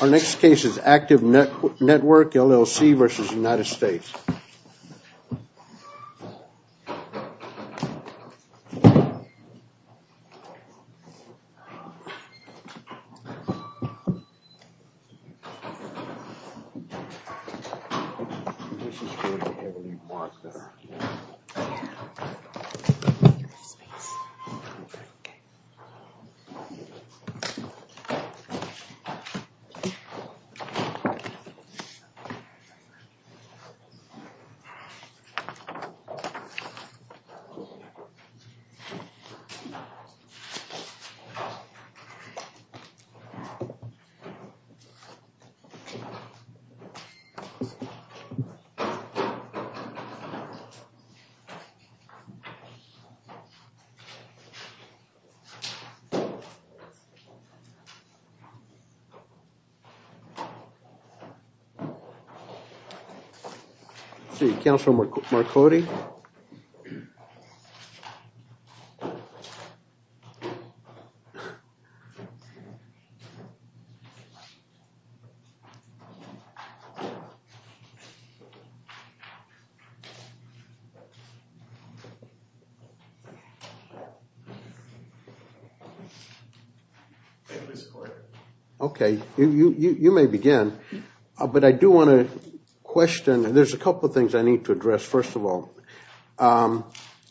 Our next case is Active Network, LLC v. United States. Next case, please. Next case, please. Next case, please. Okay, you may begin, but I do want to question, there's a couple of things I need to address. First of all,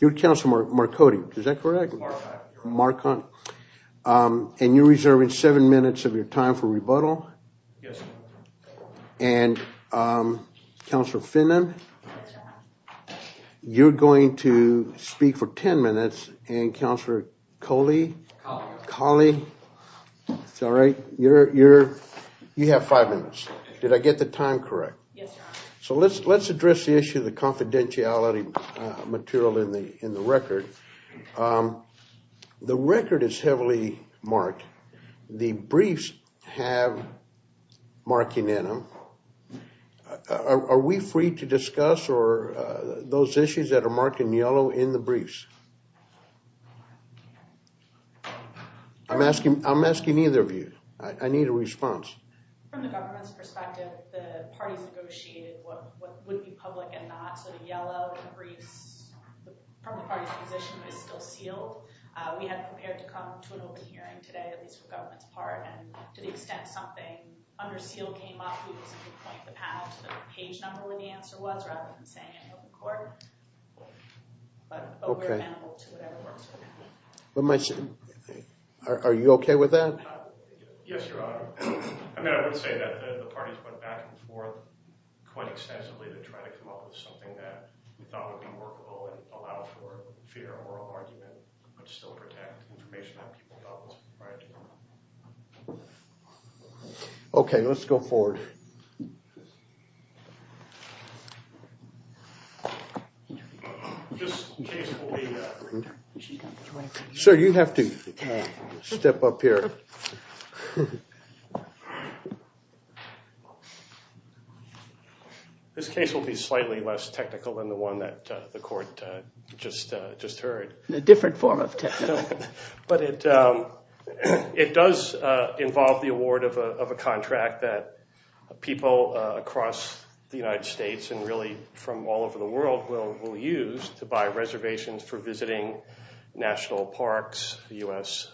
you're Counselor Marcotti, is that correct? Marcotti. And you're reserving seven minutes of your time for rebuttal? Yes. And Counselor Finnan, you're going to speak for ten minutes. And Counselor Coley? Coley. Coley. That's all right. You have five minutes. Did I get the time correct? Yes, Your Honor. So let's address the issue of the confidentiality material in the record. The record is heavily marked. The briefs have marking in them. Are we free to discuss those issues that are marked in yellow in the briefs? I'm asking either of you. I need a response. From the government's perspective, the parties negotiated what would be public and not. So the yellow in the briefs from the parties' position is still sealed. We have prepared to come to an open hearing today, at least for government's part, and to the extent something under seal came up, we would simply point the panel to the page number where the answer was rather than saying an open court. But we're amenable to whatever works for the panel. Are you okay with that? Yes, Your Honor. I would say that the parties went back and forth quite extensively to try to come up with something that we thought would be workable and allow for fair oral argument but still protect information that people felt was required to know. Okay, let's go forward. Sir, you have to step up here. Thank you. This case will be slightly less technical than the one that the court just heard. A different form of technical. But it does involve the award of a contract that people across the United States and really from all over the world will use to buy reservations for visiting national parks, U.S.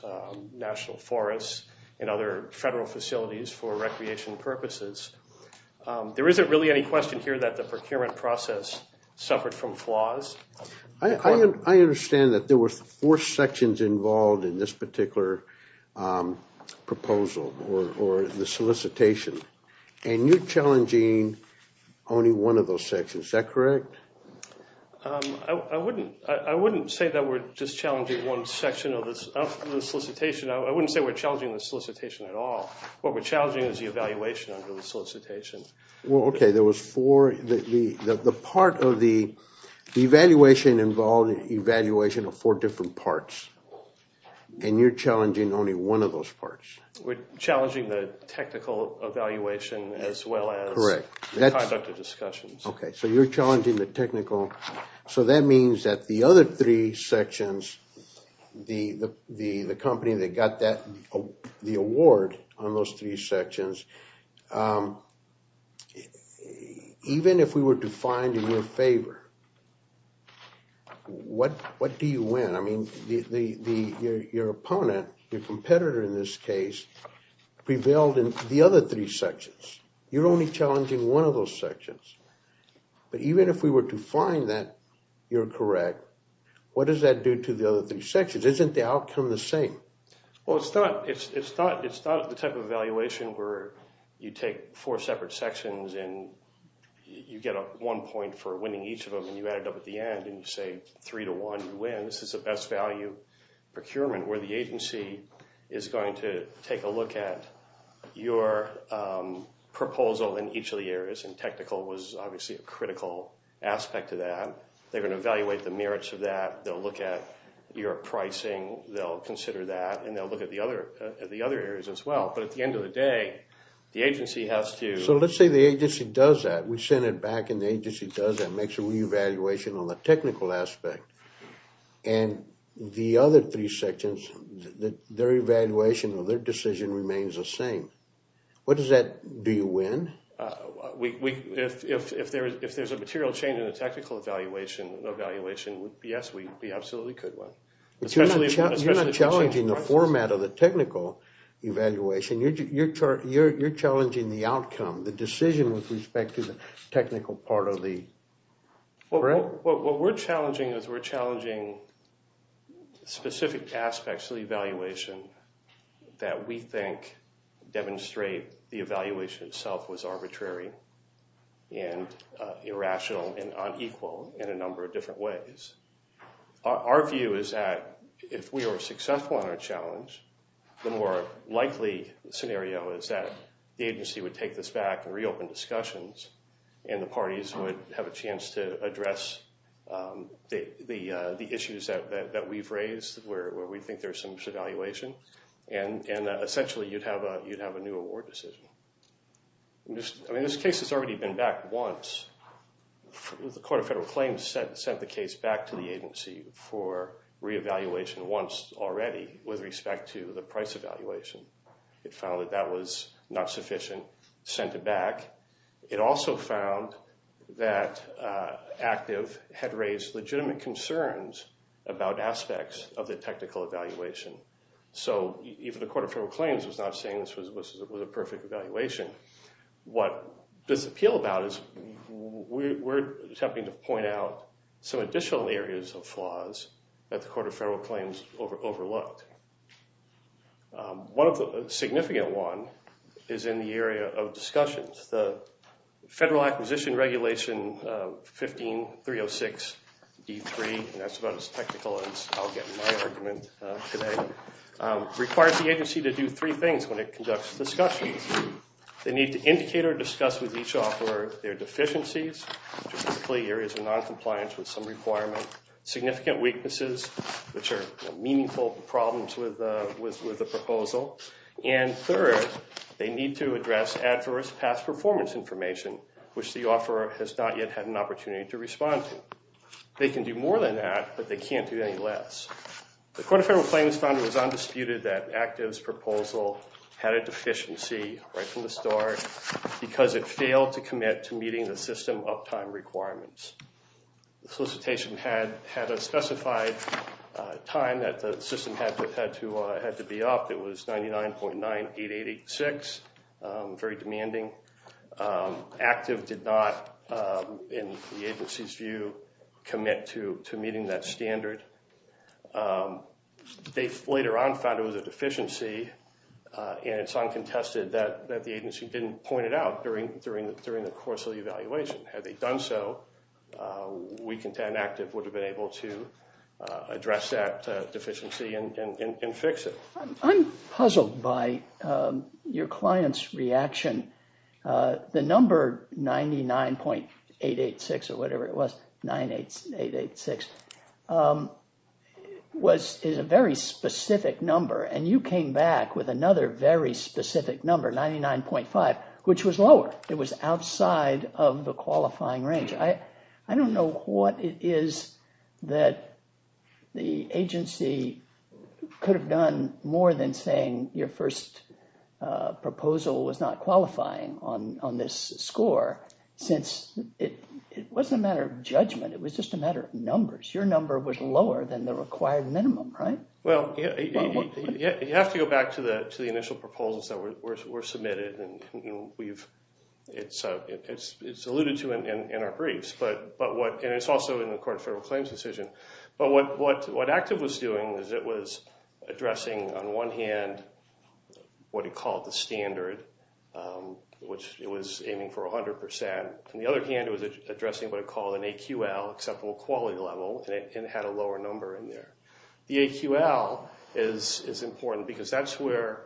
national forests, and other federal facilities for recreation purposes. There isn't really any question here that the procurement process suffered from flaws. I understand that there were four sections involved in this particular proposal or the solicitation. And you're challenging only one of those sections. Is that correct? I wouldn't say that we're just challenging one section of the solicitation. I wouldn't say we're challenging the solicitation at all. What we're challenging is the evaluation under the solicitation. Well, okay, there was four. The part of the evaluation involved an evaluation of four different parts. And you're challenging only one of those parts. We're challenging the technical evaluation as well as the conduct of discussions. Okay, so you're challenging the technical. So that means that the other three sections, the company that got the award on those three sections, even if we were to find in your favor, what do you win? I mean, your opponent, your competitor in this case, prevailed in the other three sections. You're only challenging one of those sections. But even if we were to find that you're correct, what does that do to the other three sections? Isn't the outcome the same? Well, it's not the type of evaluation where you take four separate sections and you get one point for winning each of them and you add it up at the end and you say three to one, you win. This is a best value procurement where the agency is going to take a look at your proposal in each of the areas. And technical was obviously a critical aspect of that. They're going to evaluate the merits of that. They'll look at your pricing. They'll consider that. And they'll look at the other areas as well. But at the end of the day, the agency has to... So let's say the agency does that. We send it back and the agency does that and makes a re-evaluation on the technical aspect. And the other three sections, their evaluation of their decision remains the same. What does that do? Do you win? If there's a material change in the technical evaluation, yes, we absolutely could win. You're not challenging the format of the technical evaluation. You're challenging the outcome. The decision with respect to the technical part of the grant. What we're challenging is we're challenging specific aspects of the evaluation that we think demonstrate the evaluation itself was arbitrary and irrational and unequal in a number of different ways. Our view is that if we are successful in our challenge, the more likely scenario is that the agency would take this back and reopen discussions. And the parties would have a chance to address the issues that we've raised where we think there's some devaluation. And essentially, you'd have a new award decision. I mean, this case has already been back once. The Court of Federal Claims sent the case back to the agency for re-evaluation once already with respect to the price evaluation. It found that that was not sufficient, sent it back. It also found that ACTIV had raised legitimate concerns about aspects of the technical evaluation. So even the Court of Federal Claims was not saying this was a perfect evaluation. What this appeal about is we're attempting to point out some additional areas of flaws that the Court of Federal Claims overlooked. One significant one is in the area of discussions. The Federal Acquisition Regulation 15-306-D3, and that's about as technical as I'll get in my argument today, requires the agency to do three things when it conducts discussions. First, they need to indicate or discuss with each offeror their deficiencies, which are typically areas of noncompliance with some requirement, significant weaknesses, which are meaningful problems with the proposal. And third, they need to address adverse past performance information, which the offeror has not yet had an opportunity to respond to. They can do more than that, but they can't do any less. The Court of Federal Claims found it was undisputed that ACTIV's proposal had a deficiency right from the start because it failed to commit to meeting the system uptime requirements. The solicitation had a specified time that the system had to be up. It was 99.98886, very demanding. ACTIV did not, in the agency's view, commit to meeting that standard. They later on found it was a deficiency, and it's uncontested that the agency didn't point it out during the course of the evaluation. Had they done so, we contend ACTIV would have been able to address that deficiency and fix it. I'm puzzled by your client's reaction. The number 99.886 or whatever it was, 98886, is a very specific number, and you came back with another very specific number, 99.5, which was lower. It was outside of the qualifying range. I don't know what it is that the agency could have done more than saying your first proposal was not qualifying on this score, since it wasn't a matter of judgment. It was just a matter of numbers. Your number was lower than the required minimum, right? You have to go back to the initial proposals that were submitted. It's alluded to in our briefs, and it's also in the Court of Federal Claims decision. What ACTIV was doing was it was addressing, on one hand, what it called the standard, which it was aiming for 100 percent. On the other hand, it was addressing what it called an AQL, acceptable quality level, and it had a lower number in there. The AQL is important because that's where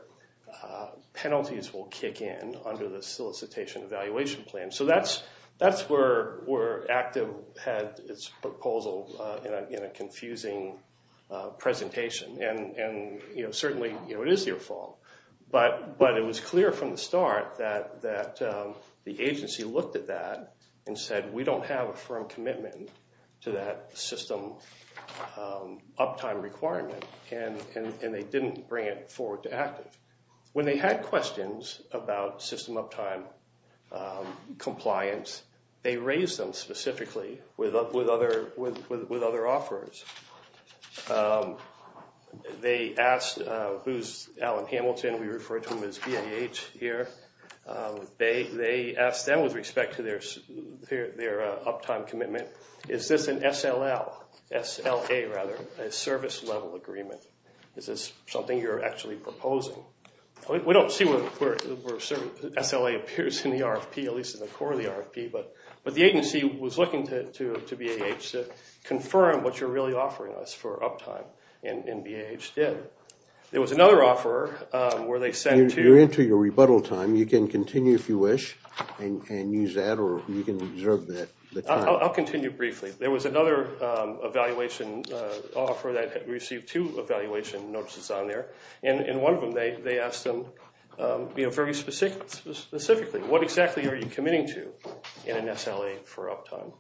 penalties will kick in under the solicitation evaluation plan. So that's where ACTIV had its proposal in a confusing presentation, and certainly it is your fault. But it was clear from the start that the agency looked at that and said we don't have a firm commitment to that system uptime requirement, and they didn't bring it forward to ACTIV. When they had questions about system uptime compliance, they raised them specifically with other offerors. They asked who's Alan Hamilton. We refer to him as BAH here. They asked them with respect to their uptime commitment, is this an SLA, a service level agreement? Is this something you're actually proposing? We don't see where SLA appears in the RFP, at least in the core of the RFP, but the agency was looking to BAH to confirm what you're really offering us for uptime, and BAH did. There was another offeror where they sent to- You're into your rebuttal time. You can continue if you wish and use that, or you can reserve the time. I'll continue briefly. There was another evaluation offeror that received two evaluation notices on there, and in one of them, they asked them very specifically, what exactly are you committing to in an SLA for uptime?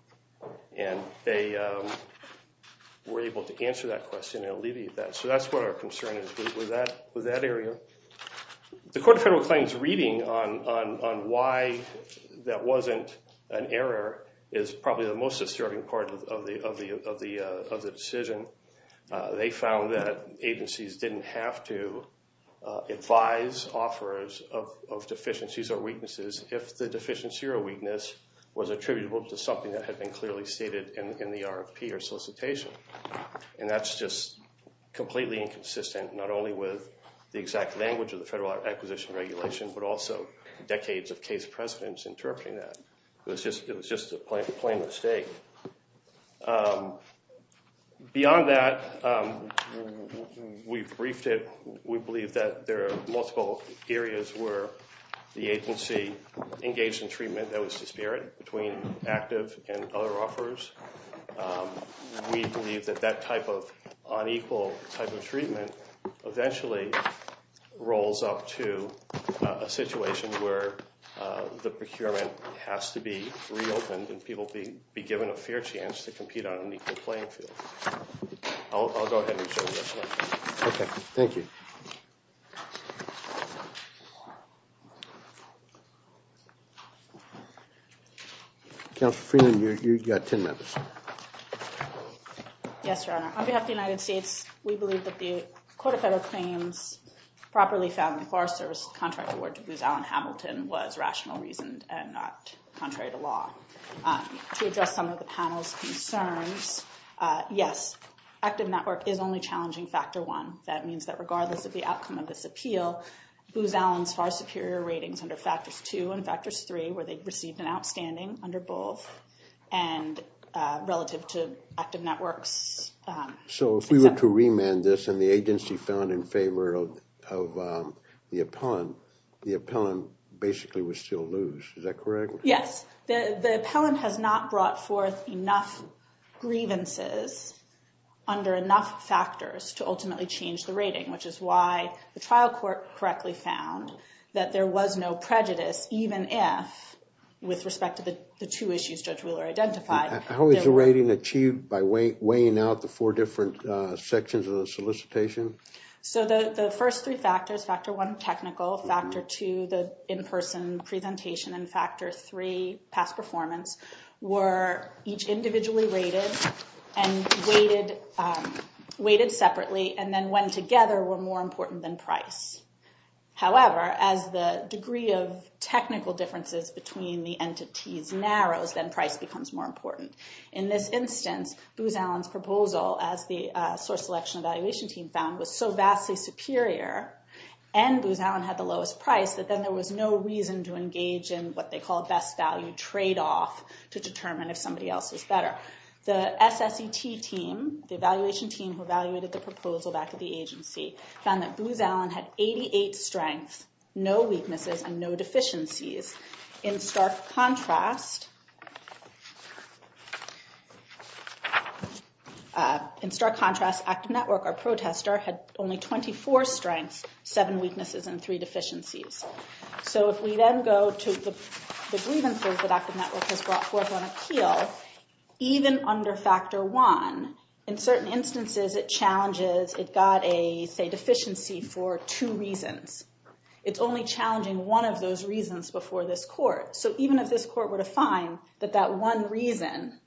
They were able to answer that question and alleviate that, so that's what our concern is with that area. The Court of Federal Claims reading on why that wasn't an error is probably the most disturbing part of the decision. They found that agencies didn't have to advise offerors of deficiencies or weaknesses if the deficiency or weakness was attributable to something that had been clearly stated in the RFP or solicitation, and that's just completely inconsistent, not only with the exact language of the Federal Acquisition Regulation, but also decades of case precedents interpreting that. It was just a plain mistake. Beyond that, we've briefed it. We believe that there are multiple areas where the agency engaged in treatment that was disparate between active and other offerors. We believe that that type of unequal type of treatment eventually rolls up to a situation where the procurement has to be reopened and people be given a fair chance to compete on an equal playing field. I'll go ahead and reserve this one. Okay, thank you. Counselor Freeland, you've got ten minutes. Yes, Your Honor. On behalf of the United States, we believe that the Court of Federal Claims properly found the Forest Service contract award to Booz Allen Hamilton was rational reasoned and not contrary to law. To address some of the panel's concerns, yes, active network is only challenging factor one. That means that regardless of the outcome of this appeal, Booz Allen's far superior ratings under factors two and factors three, where they received an outstanding under both, and relative to active networks. So if we were to remand this and the agency found in favor of the appellant, the appellant basically would still lose. Is that correct? Yes. The appellant has not brought forth enough grievances under enough factors to ultimately change the rating, which is why the trial court correctly found that there was no prejudice even if, with respect to the two issues Judge Wheeler identified. How is the rating achieved by weighing out the four different sections of the solicitation? So the first three factors, factor one, technical, factor two, the in-person presentation, and factor three, past performance, were each individually rated and weighted separately, and then when together were more important than price. However, as the degree of technical differences between the entities narrows, then price becomes more important. In this instance, Booz Allen's proposal, as the source selection evaluation team found, was so vastly superior, and Booz Allen had the lowest price, that then there was no reason to engage in what they call best value tradeoff to determine if somebody else was better. The SSET team, the evaluation team who evaluated the proposal back at the agency, found that Booz Allen had 88 strengths, no weaknesses, and no deficiencies. In stark contrast, Active Network, our protester, had only 24 strengths, seven weaknesses, and three deficiencies. So if we then go to the grievances that Active Network has brought forth on appeal, even under factor one, in certain instances it challenges, it got a deficiency for two reasons. It's only challenging one of those reasons before this court. So even if this court were to find that that one reason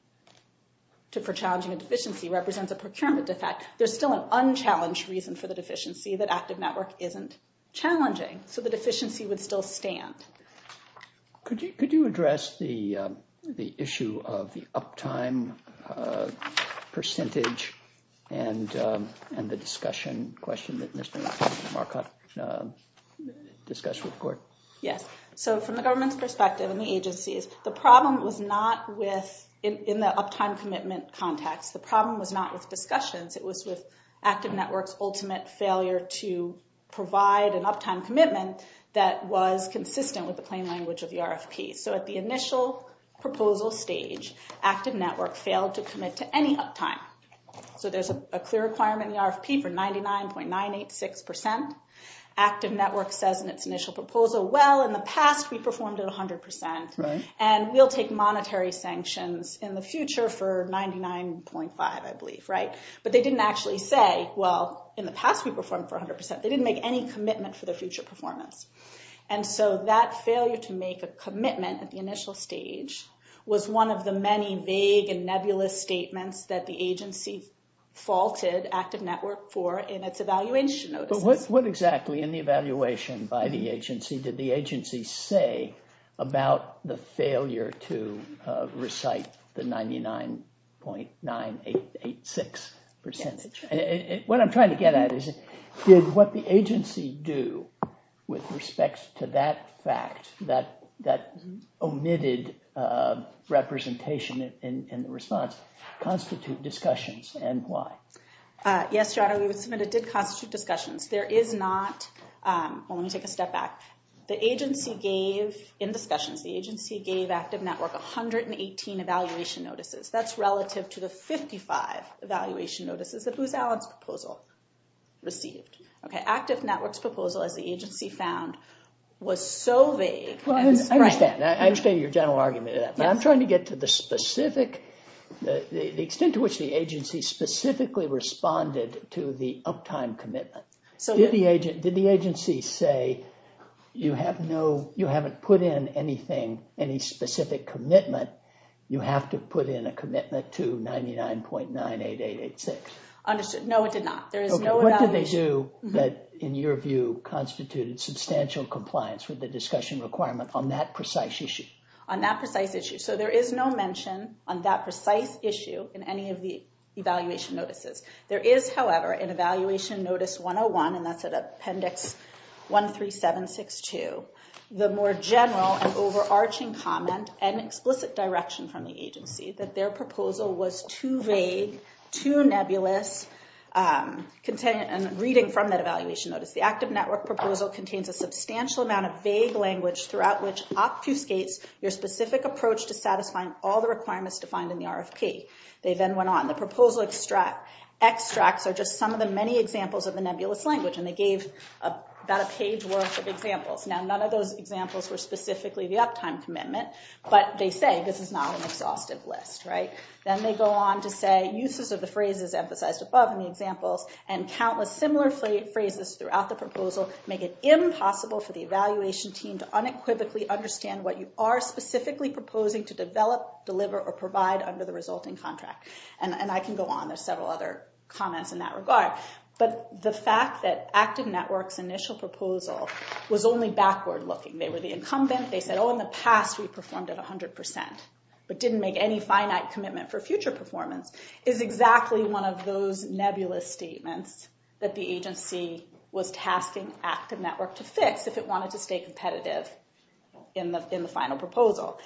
for challenging a deficiency represents a procurement defect, there's still an unchallenged reason for the deficiency that Active Network isn't challenging. So the deficiency would still stand. Could you address the issue of the uptime percentage and the discussion question that Mr. Marcotte discussed with court? Yes. So from the government's perspective and the agency's, the problem was not with, in the uptime commitment context, the problem was not with discussions. It was with Active Network's ultimate failure to provide an uptime commitment that was consistent with the plain language of the RFP. So at the initial proposal stage, Active Network failed to commit to any uptime. So there's a clear requirement in the RFP for 99.986%. Active Network says in its initial proposal, well, in the past we performed at 100%, and we'll take monetary sanctions in the future for 99.5%, I believe, right? But they didn't actually say, well, in the past we performed for 100%. They didn't make any commitment for the future performance. And so that failure to make a commitment at the initial stage was one of the many vague and nebulous statements that the agency faulted Active Network for in its evaluation notices. What exactly in the evaluation by the agency did the agency say about the failure to recite the 99.986%? What I'm trying to get at is did what the agency do with respect to that fact, that omitted representation in the response constitute discussions and why? Yes, Gerardo, we would submit it did constitute discussions. There is not, well, let me take a step back. The agency gave, in discussions, the agency gave Active Network 118 evaluation notices. That's relative to the 55 evaluation notices that Booz Allen's proposal received. Okay, Active Network's proposal, as the agency found, was so vague. Well, I understand. I understand your general argument of that. But I'm trying to get to the specific, the extent to which the agency specifically responded to the uptime commitment. Did the agency say you have no, you haven't put in anything, any specific commitment. You have to put in a commitment to 99.98886. Understood. No, it did not. There is no evaluation. What did they do that, in your view, constituted substantial compliance with the discussion requirement on that precise issue? So there is no mention on that precise issue in any of the evaluation notices. There is, however, in Evaluation Notice 101, and that's at Appendix 13762, the more general and overarching comment and explicit direction from the agency that their proposal was too vague, too nebulous. Reading from that evaluation notice, the Active Network proposal contains a substantial amount of vague language throughout which obfuscates your specific approach to satisfying all the requirements defined in the RFP. They then went on. The proposal extracts are just some of the many examples of the nebulous language, and they gave about a page worth of examples. Now, none of those examples were specifically the uptime commitment, but they say this is not an exhaustive list, right? Then they go on to say, uses of the phrases emphasized above in the examples, and countless similar phrases throughout the proposal, make it impossible for the evaluation team to unequivocally understand what you are specifically proposing to develop, deliver, or provide under the resulting contract. And I can go on. There's several other comments in that regard. But the fact that Active Network's initial proposal was only backward looking. They were the incumbent. They said, oh, in the past, we performed at 100%, but didn't make any finite commitment for future performance, is exactly one of those nebulous statements that the agency was tasking Active Network to fix if it wanted to stay competitive in the final proposal.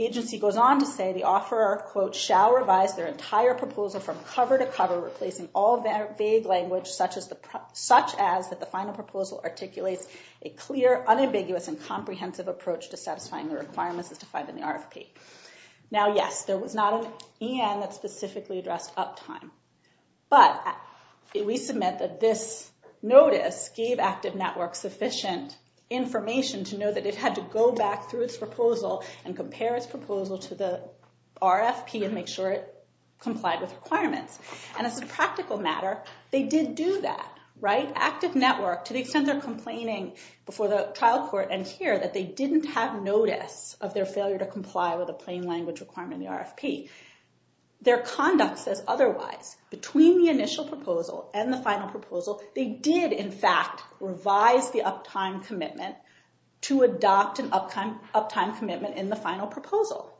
Agency goes on to say, the offeror, quote, shall revise their entire proposal from cover to cover, replacing all of their vague language, such as that the final proposal articulates a clear, unambiguous, and comprehensive approach to satisfying the requirements as defined in the RFP. Now, yes, there was not an EN that specifically addressed uptime. But we submit that this notice gave Active Network sufficient information to know that it had to go back through its proposal and compare its proposal to the RFP and make sure it complied with requirements. And as a practical matter, they did do that, right? Active Network, to the extent they're complaining before the trial court and here, that they didn't have notice of their failure to comply with a plain language requirement in the RFP. Their conduct says otherwise. Between the initial proposal and the final proposal, they did, in fact, revise the uptime commitment to adopt an uptime commitment in the final proposal.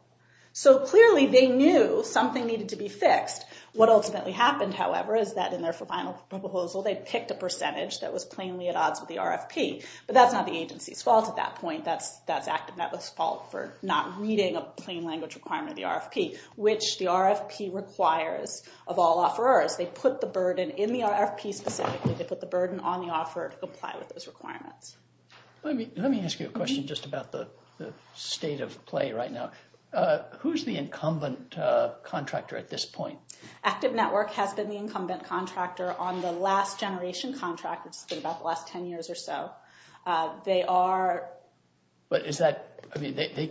So clearly, they knew something needed to be fixed. What ultimately happened, however, is that in their final proposal, they picked a percentage that was plainly at odds with the RFP. But that's not the agency's fault at that point. That's Active Network's fault for not reading a plain language requirement of the RFP. Which the RFP requires of all offerors. They put the burden in the RFP specifically. They put the burden on the offeror to comply with those requirements. Let me ask you a question just about the state of play right now. Who's the incumbent contractor at this point? Active Network has been the incumbent contractor on the last generation contract. It's been about the last 10 years or so. But they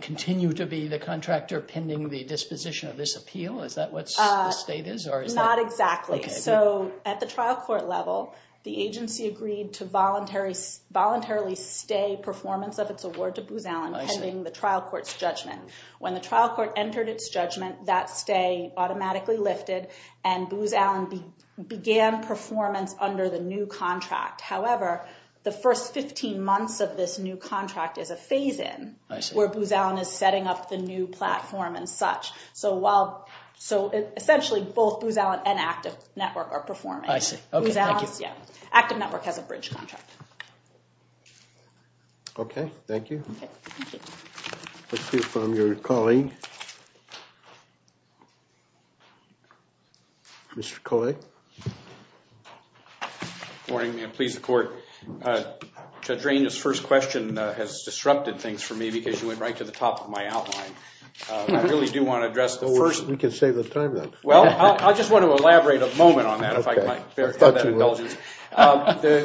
continue to be the contractor pending the disposition of this appeal? Is that what the state is? Not exactly. So at the trial court level, the agency agreed to voluntarily stay performance of its award to Booz Allen pending the trial court's judgment. When the trial court entered its judgment, that stay automatically lifted. And Booz Allen began performance under the new contract. However, the first 15 months of this new contract is a phase in where Booz Allen is setting up the new platform and such. So essentially both Booz Allen and Active Network are performing. Active Network has a bridge contract. Okay. Thank you. Let's hear from your colleague. Mr. Kolek. Good morning, ma'am. Please, the court. Judge Range's first question has disrupted things for me because you went right to the top of my outline. I really do want to address the first. We can save the time, then. Well, I just want to elaborate a moment on that if I can have that indulgence. The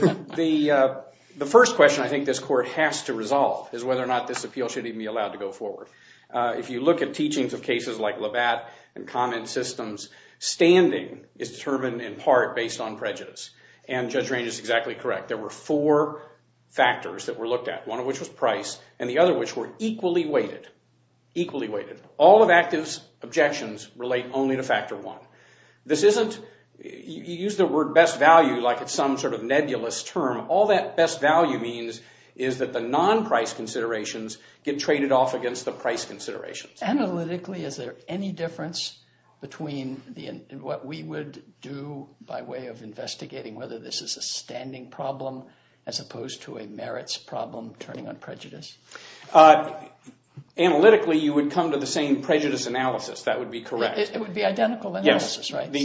first question I think this court has to resolve is whether or not this appeal should even be allowed to go forward. If you look at teachings of cases like Labatt and Common Systems, standing is determined in part based on prejudice. And Judge Range is exactly correct. There were four factors that were looked at, one of which was price and the other which were equally weighted, equally weighted. All of Active's objections relate only to factor one. This isn't – you use the word best value like it's some sort of nebulous term. All that best value means is that the non-price considerations get traded off against the price considerations. Analytically, is there any difference between what we would do by way of investigating whether this is a standing problem as opposed to a merits problem turning on prejudice? Analytically, you would come to the same prejudice analysis. That would be correct. It would be identical analysis, right? But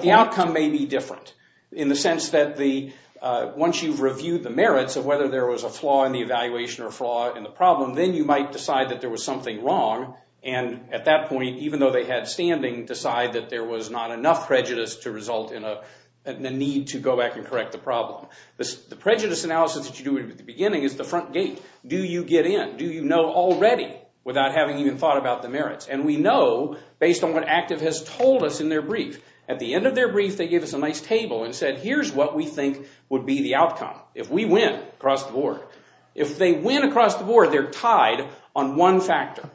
the outcome may be different in the sense that the – once you've reviewed the merits of whether there was a flaw in the evaluation or flaw in the problem, then you might decide that there was something wrong and at that point, even though they had standing, decide that there was not enough prejudice to result in a need to go back and correct the problem. The prejudice analysis that you do at the beginning is the front gate. Do you get in? Do you know already without having even thought about the merits? And we know based on what ACTIV has told us in their brief. At the end of their brief, they gave us a nice table and said here's what we think would be the outcome if we win across the board. If they win across the board, they're tied on one factor.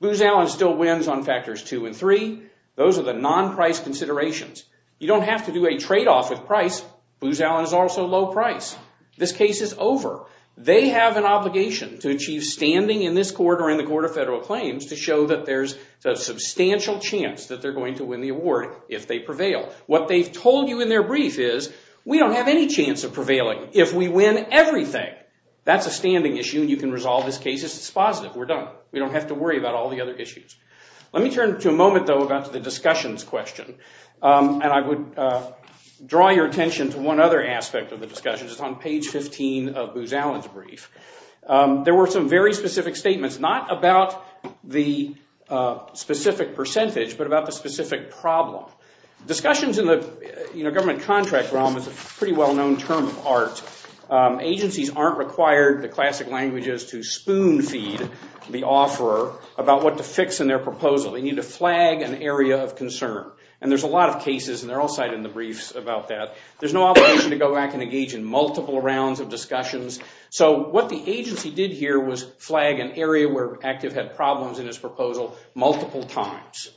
Booz Allen still wins on factors two and three. Those are the non-price considerations. You don't have to do a tradeoff with price. Booz Allen is also low price. This case is over. They have an obligation to achieve standing in this court or in the Court of Federal Claims to show that there's a substantial chance that they're going to win the award if they prevail. What they've told you in their brief is we don't have any chance of prevailing if we win everything. That's a standing issue and you can resolve this case. It's positive. We're done. We don't have to worry about all the other issues. Let me turn to a moment, though, about the discussions question. And I would draw your attention to one other aspect of the discussion. It's on page 15 of Booz Allen's brief. There were some very specific statements, not about the specific percentage but about the specific problem. Discussions in the government contract realm is a pretty well-known term of art. Agencies aren't required, the classic language is, to spoon-feed the offeror about what to fix in their proposal. They need to flag an area of concern. And there's a lot of cases, and they're all cited in the briefs, about that. There's no obligation to go back and engage in multiple rounds of discussions. So what the agency did here was flag an area where ACTIV had problems in its proposal multiple times.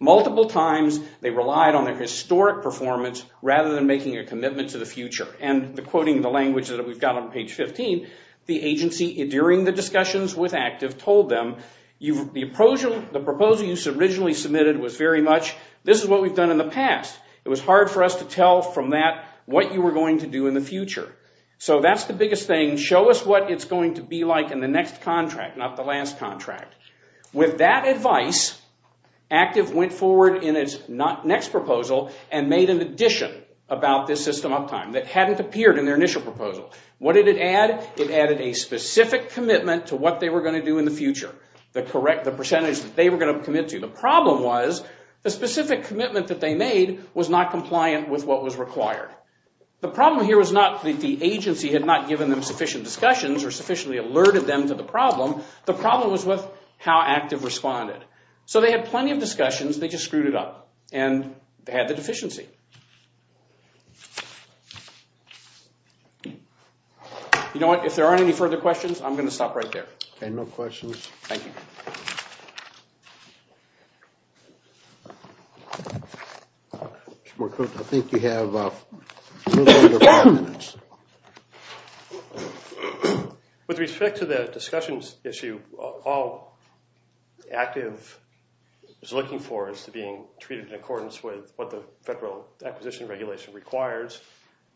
Multiple times they relied on their historic performance rather than making a commitment to the future. And quoting the language that we've got on page 15, the agency, during the discussions with ACTIV, told them, the proposal you originally submitted was very much, this is what we've done in the past. It was hard for us to tell from that what you were going to do in the future. So that's the biggest thing. Show us what it's going to be like in the next contract, not the last contract. With that advice, ACTIV went forward in its next proposal and made an addition about this system uptime that hadn't appeared in their initial proposal. What did it add? It added a specific commitment to what they were going to do in the future, the percentage that they were going to commit to. The problem was the specific commitment that they made was not compliant with what was required. The problem here was not that the agency had not given them sufficient discussions or sufficiently alerted them to the problem. The problem was with how ACTIV responded. So they had plenty of discussions. They just screwed it up and had the deficiency. You know what? If there aren't any further questions, I'm going to stop right there. Any more questions? Thank you. Mr. McCook, I think you have a little under five minutes. With respect to the discussions issue, all ACTIV is looking for is to be treated in accordance with what the Federal Acquisition Regulation requires,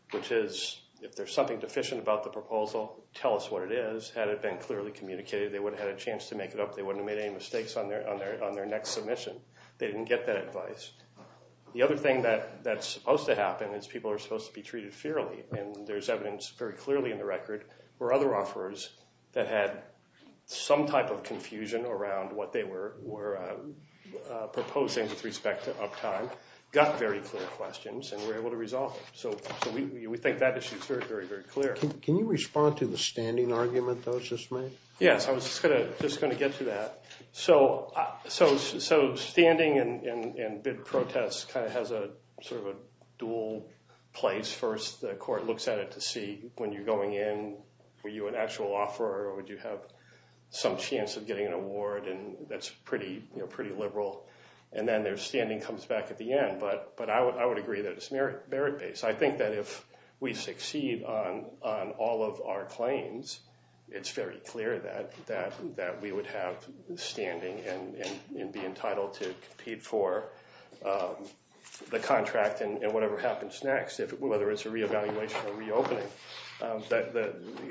which is if there's something deficient about the proposal, tell us what it is. Had it been clearly communicated, they would have had a chance to make it up. They wouldn't have made any mistakes on their next submission. They didn't get that advice. The other thing that's supposed to happen is people are supposed to be treated fairly, and there's evidence very clearly in the record where other offers that had some type of confusion around what they were proposing with respect to uptime got very clear questions and were able to resolve them. So we think that issue is very, very, very clear. Can you respond to the standing argument that was just made? Yes, I was just going to get to that. So standing and bid protest kind of has sort of a dual place. First, the court looks at it to see when you're going in, were you an actual offerer or would you have some chance of getting an award, and that's pretty liberal. And then their standing comes back at the end. But I would agree that it's merit-based. I think that if we succeed on all of our claims, it's very clear that we would have standing and be entitled to compete for the contract and whatever happens next, whether it's a reevaluation or reopening.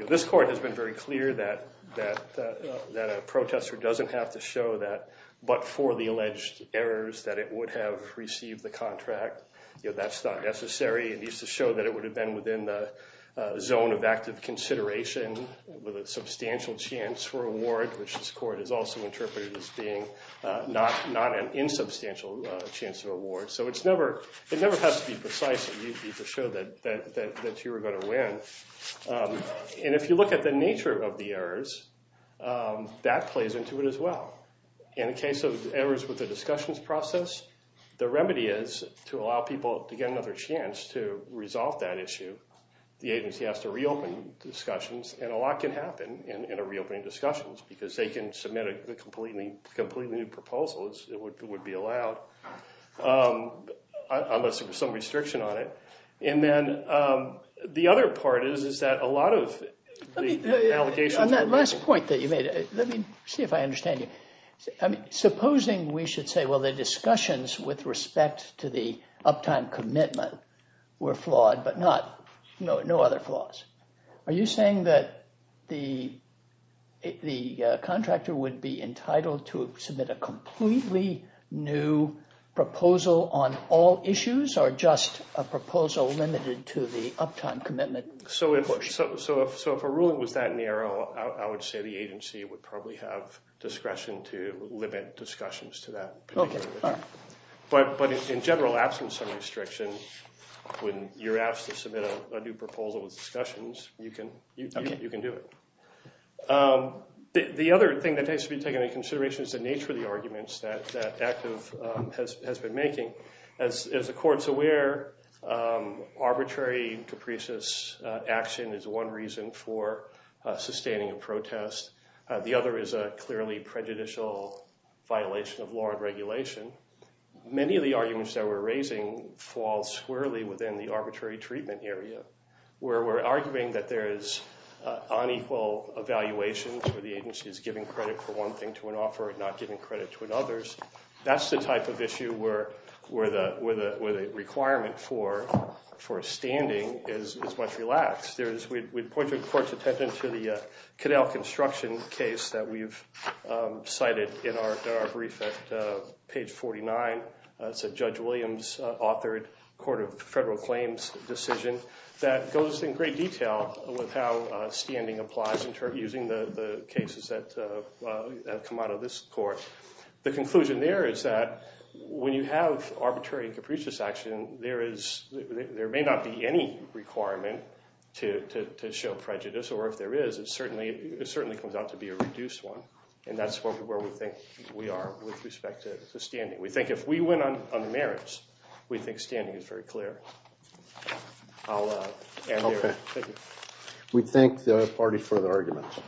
This court has been very clear that a protester doesn't have to show that but for the alleged errors that it would have received the contract. That's not necessary. It needs to show that it would have been within the zone of active consideration with a substantial chance for award, which this court has also interpreted as being not an insubstantial chance of award. So it never has to be precise. It needs to show that you were going to win. And if you look at the nature of the errors, that plays into it as well. In the case of errors with the discussions process, the remedy is to allow people to get another chance to resolve that issue. The agency has to reopen discussions, and a lot can happen in a reopening discussions because they can submit a completely new proposal, as it would be allowed, unless there was some restriction on it. And then the other part is that a lot of the allegations— On that last point that you made, let me see if I understand you. Supposing we should say, well, the discussions with respect to the uptime commitment were flawed but no other flaws. Are you saying that the contractor would be entitled to submit a completely new proposal on all issues or just a proposal limited to the uptime commitment? So if a ruling was that narrow, I would say the agency would probably have discretion to limit discussions to that particular issue. But in general, absent some restriction, when you're asked to submit a new proposal with discussions, you can do it. The other thing that has to be taken into consideration is the nature of the arguments that ACTIV has been making. As the court's aware, arbitrary capricious action is one reason for sustaining a protest. The other is a clearly prejudicial violation of law and regulation. Many of the arguments that we're raising fall squarely within the arbitrary treatment area where we're arguing that there is unequal evaluation where the agency is giving credit for one thing to an offer and not giving credit to another. That's the type of issue where the requirement for standing is much relaxed. We'd point the court's attention to the Caddell construction case that we've cited in our brief at page 49. It's a Judge Williams-authored court of federal claims decision that goes in great detail with how standing applies using the cases that have come out of this court. The conclusion there is that when you have arbitrary capricious action, there may not be any requirement to show prejudice, or if there is, it certainly comes out to be a reduced one, and that's where we think we are with respect to standing. We think if we win on the merits, we think standing is very clear. I'll end there. Thank you. We thank the other party for the argument.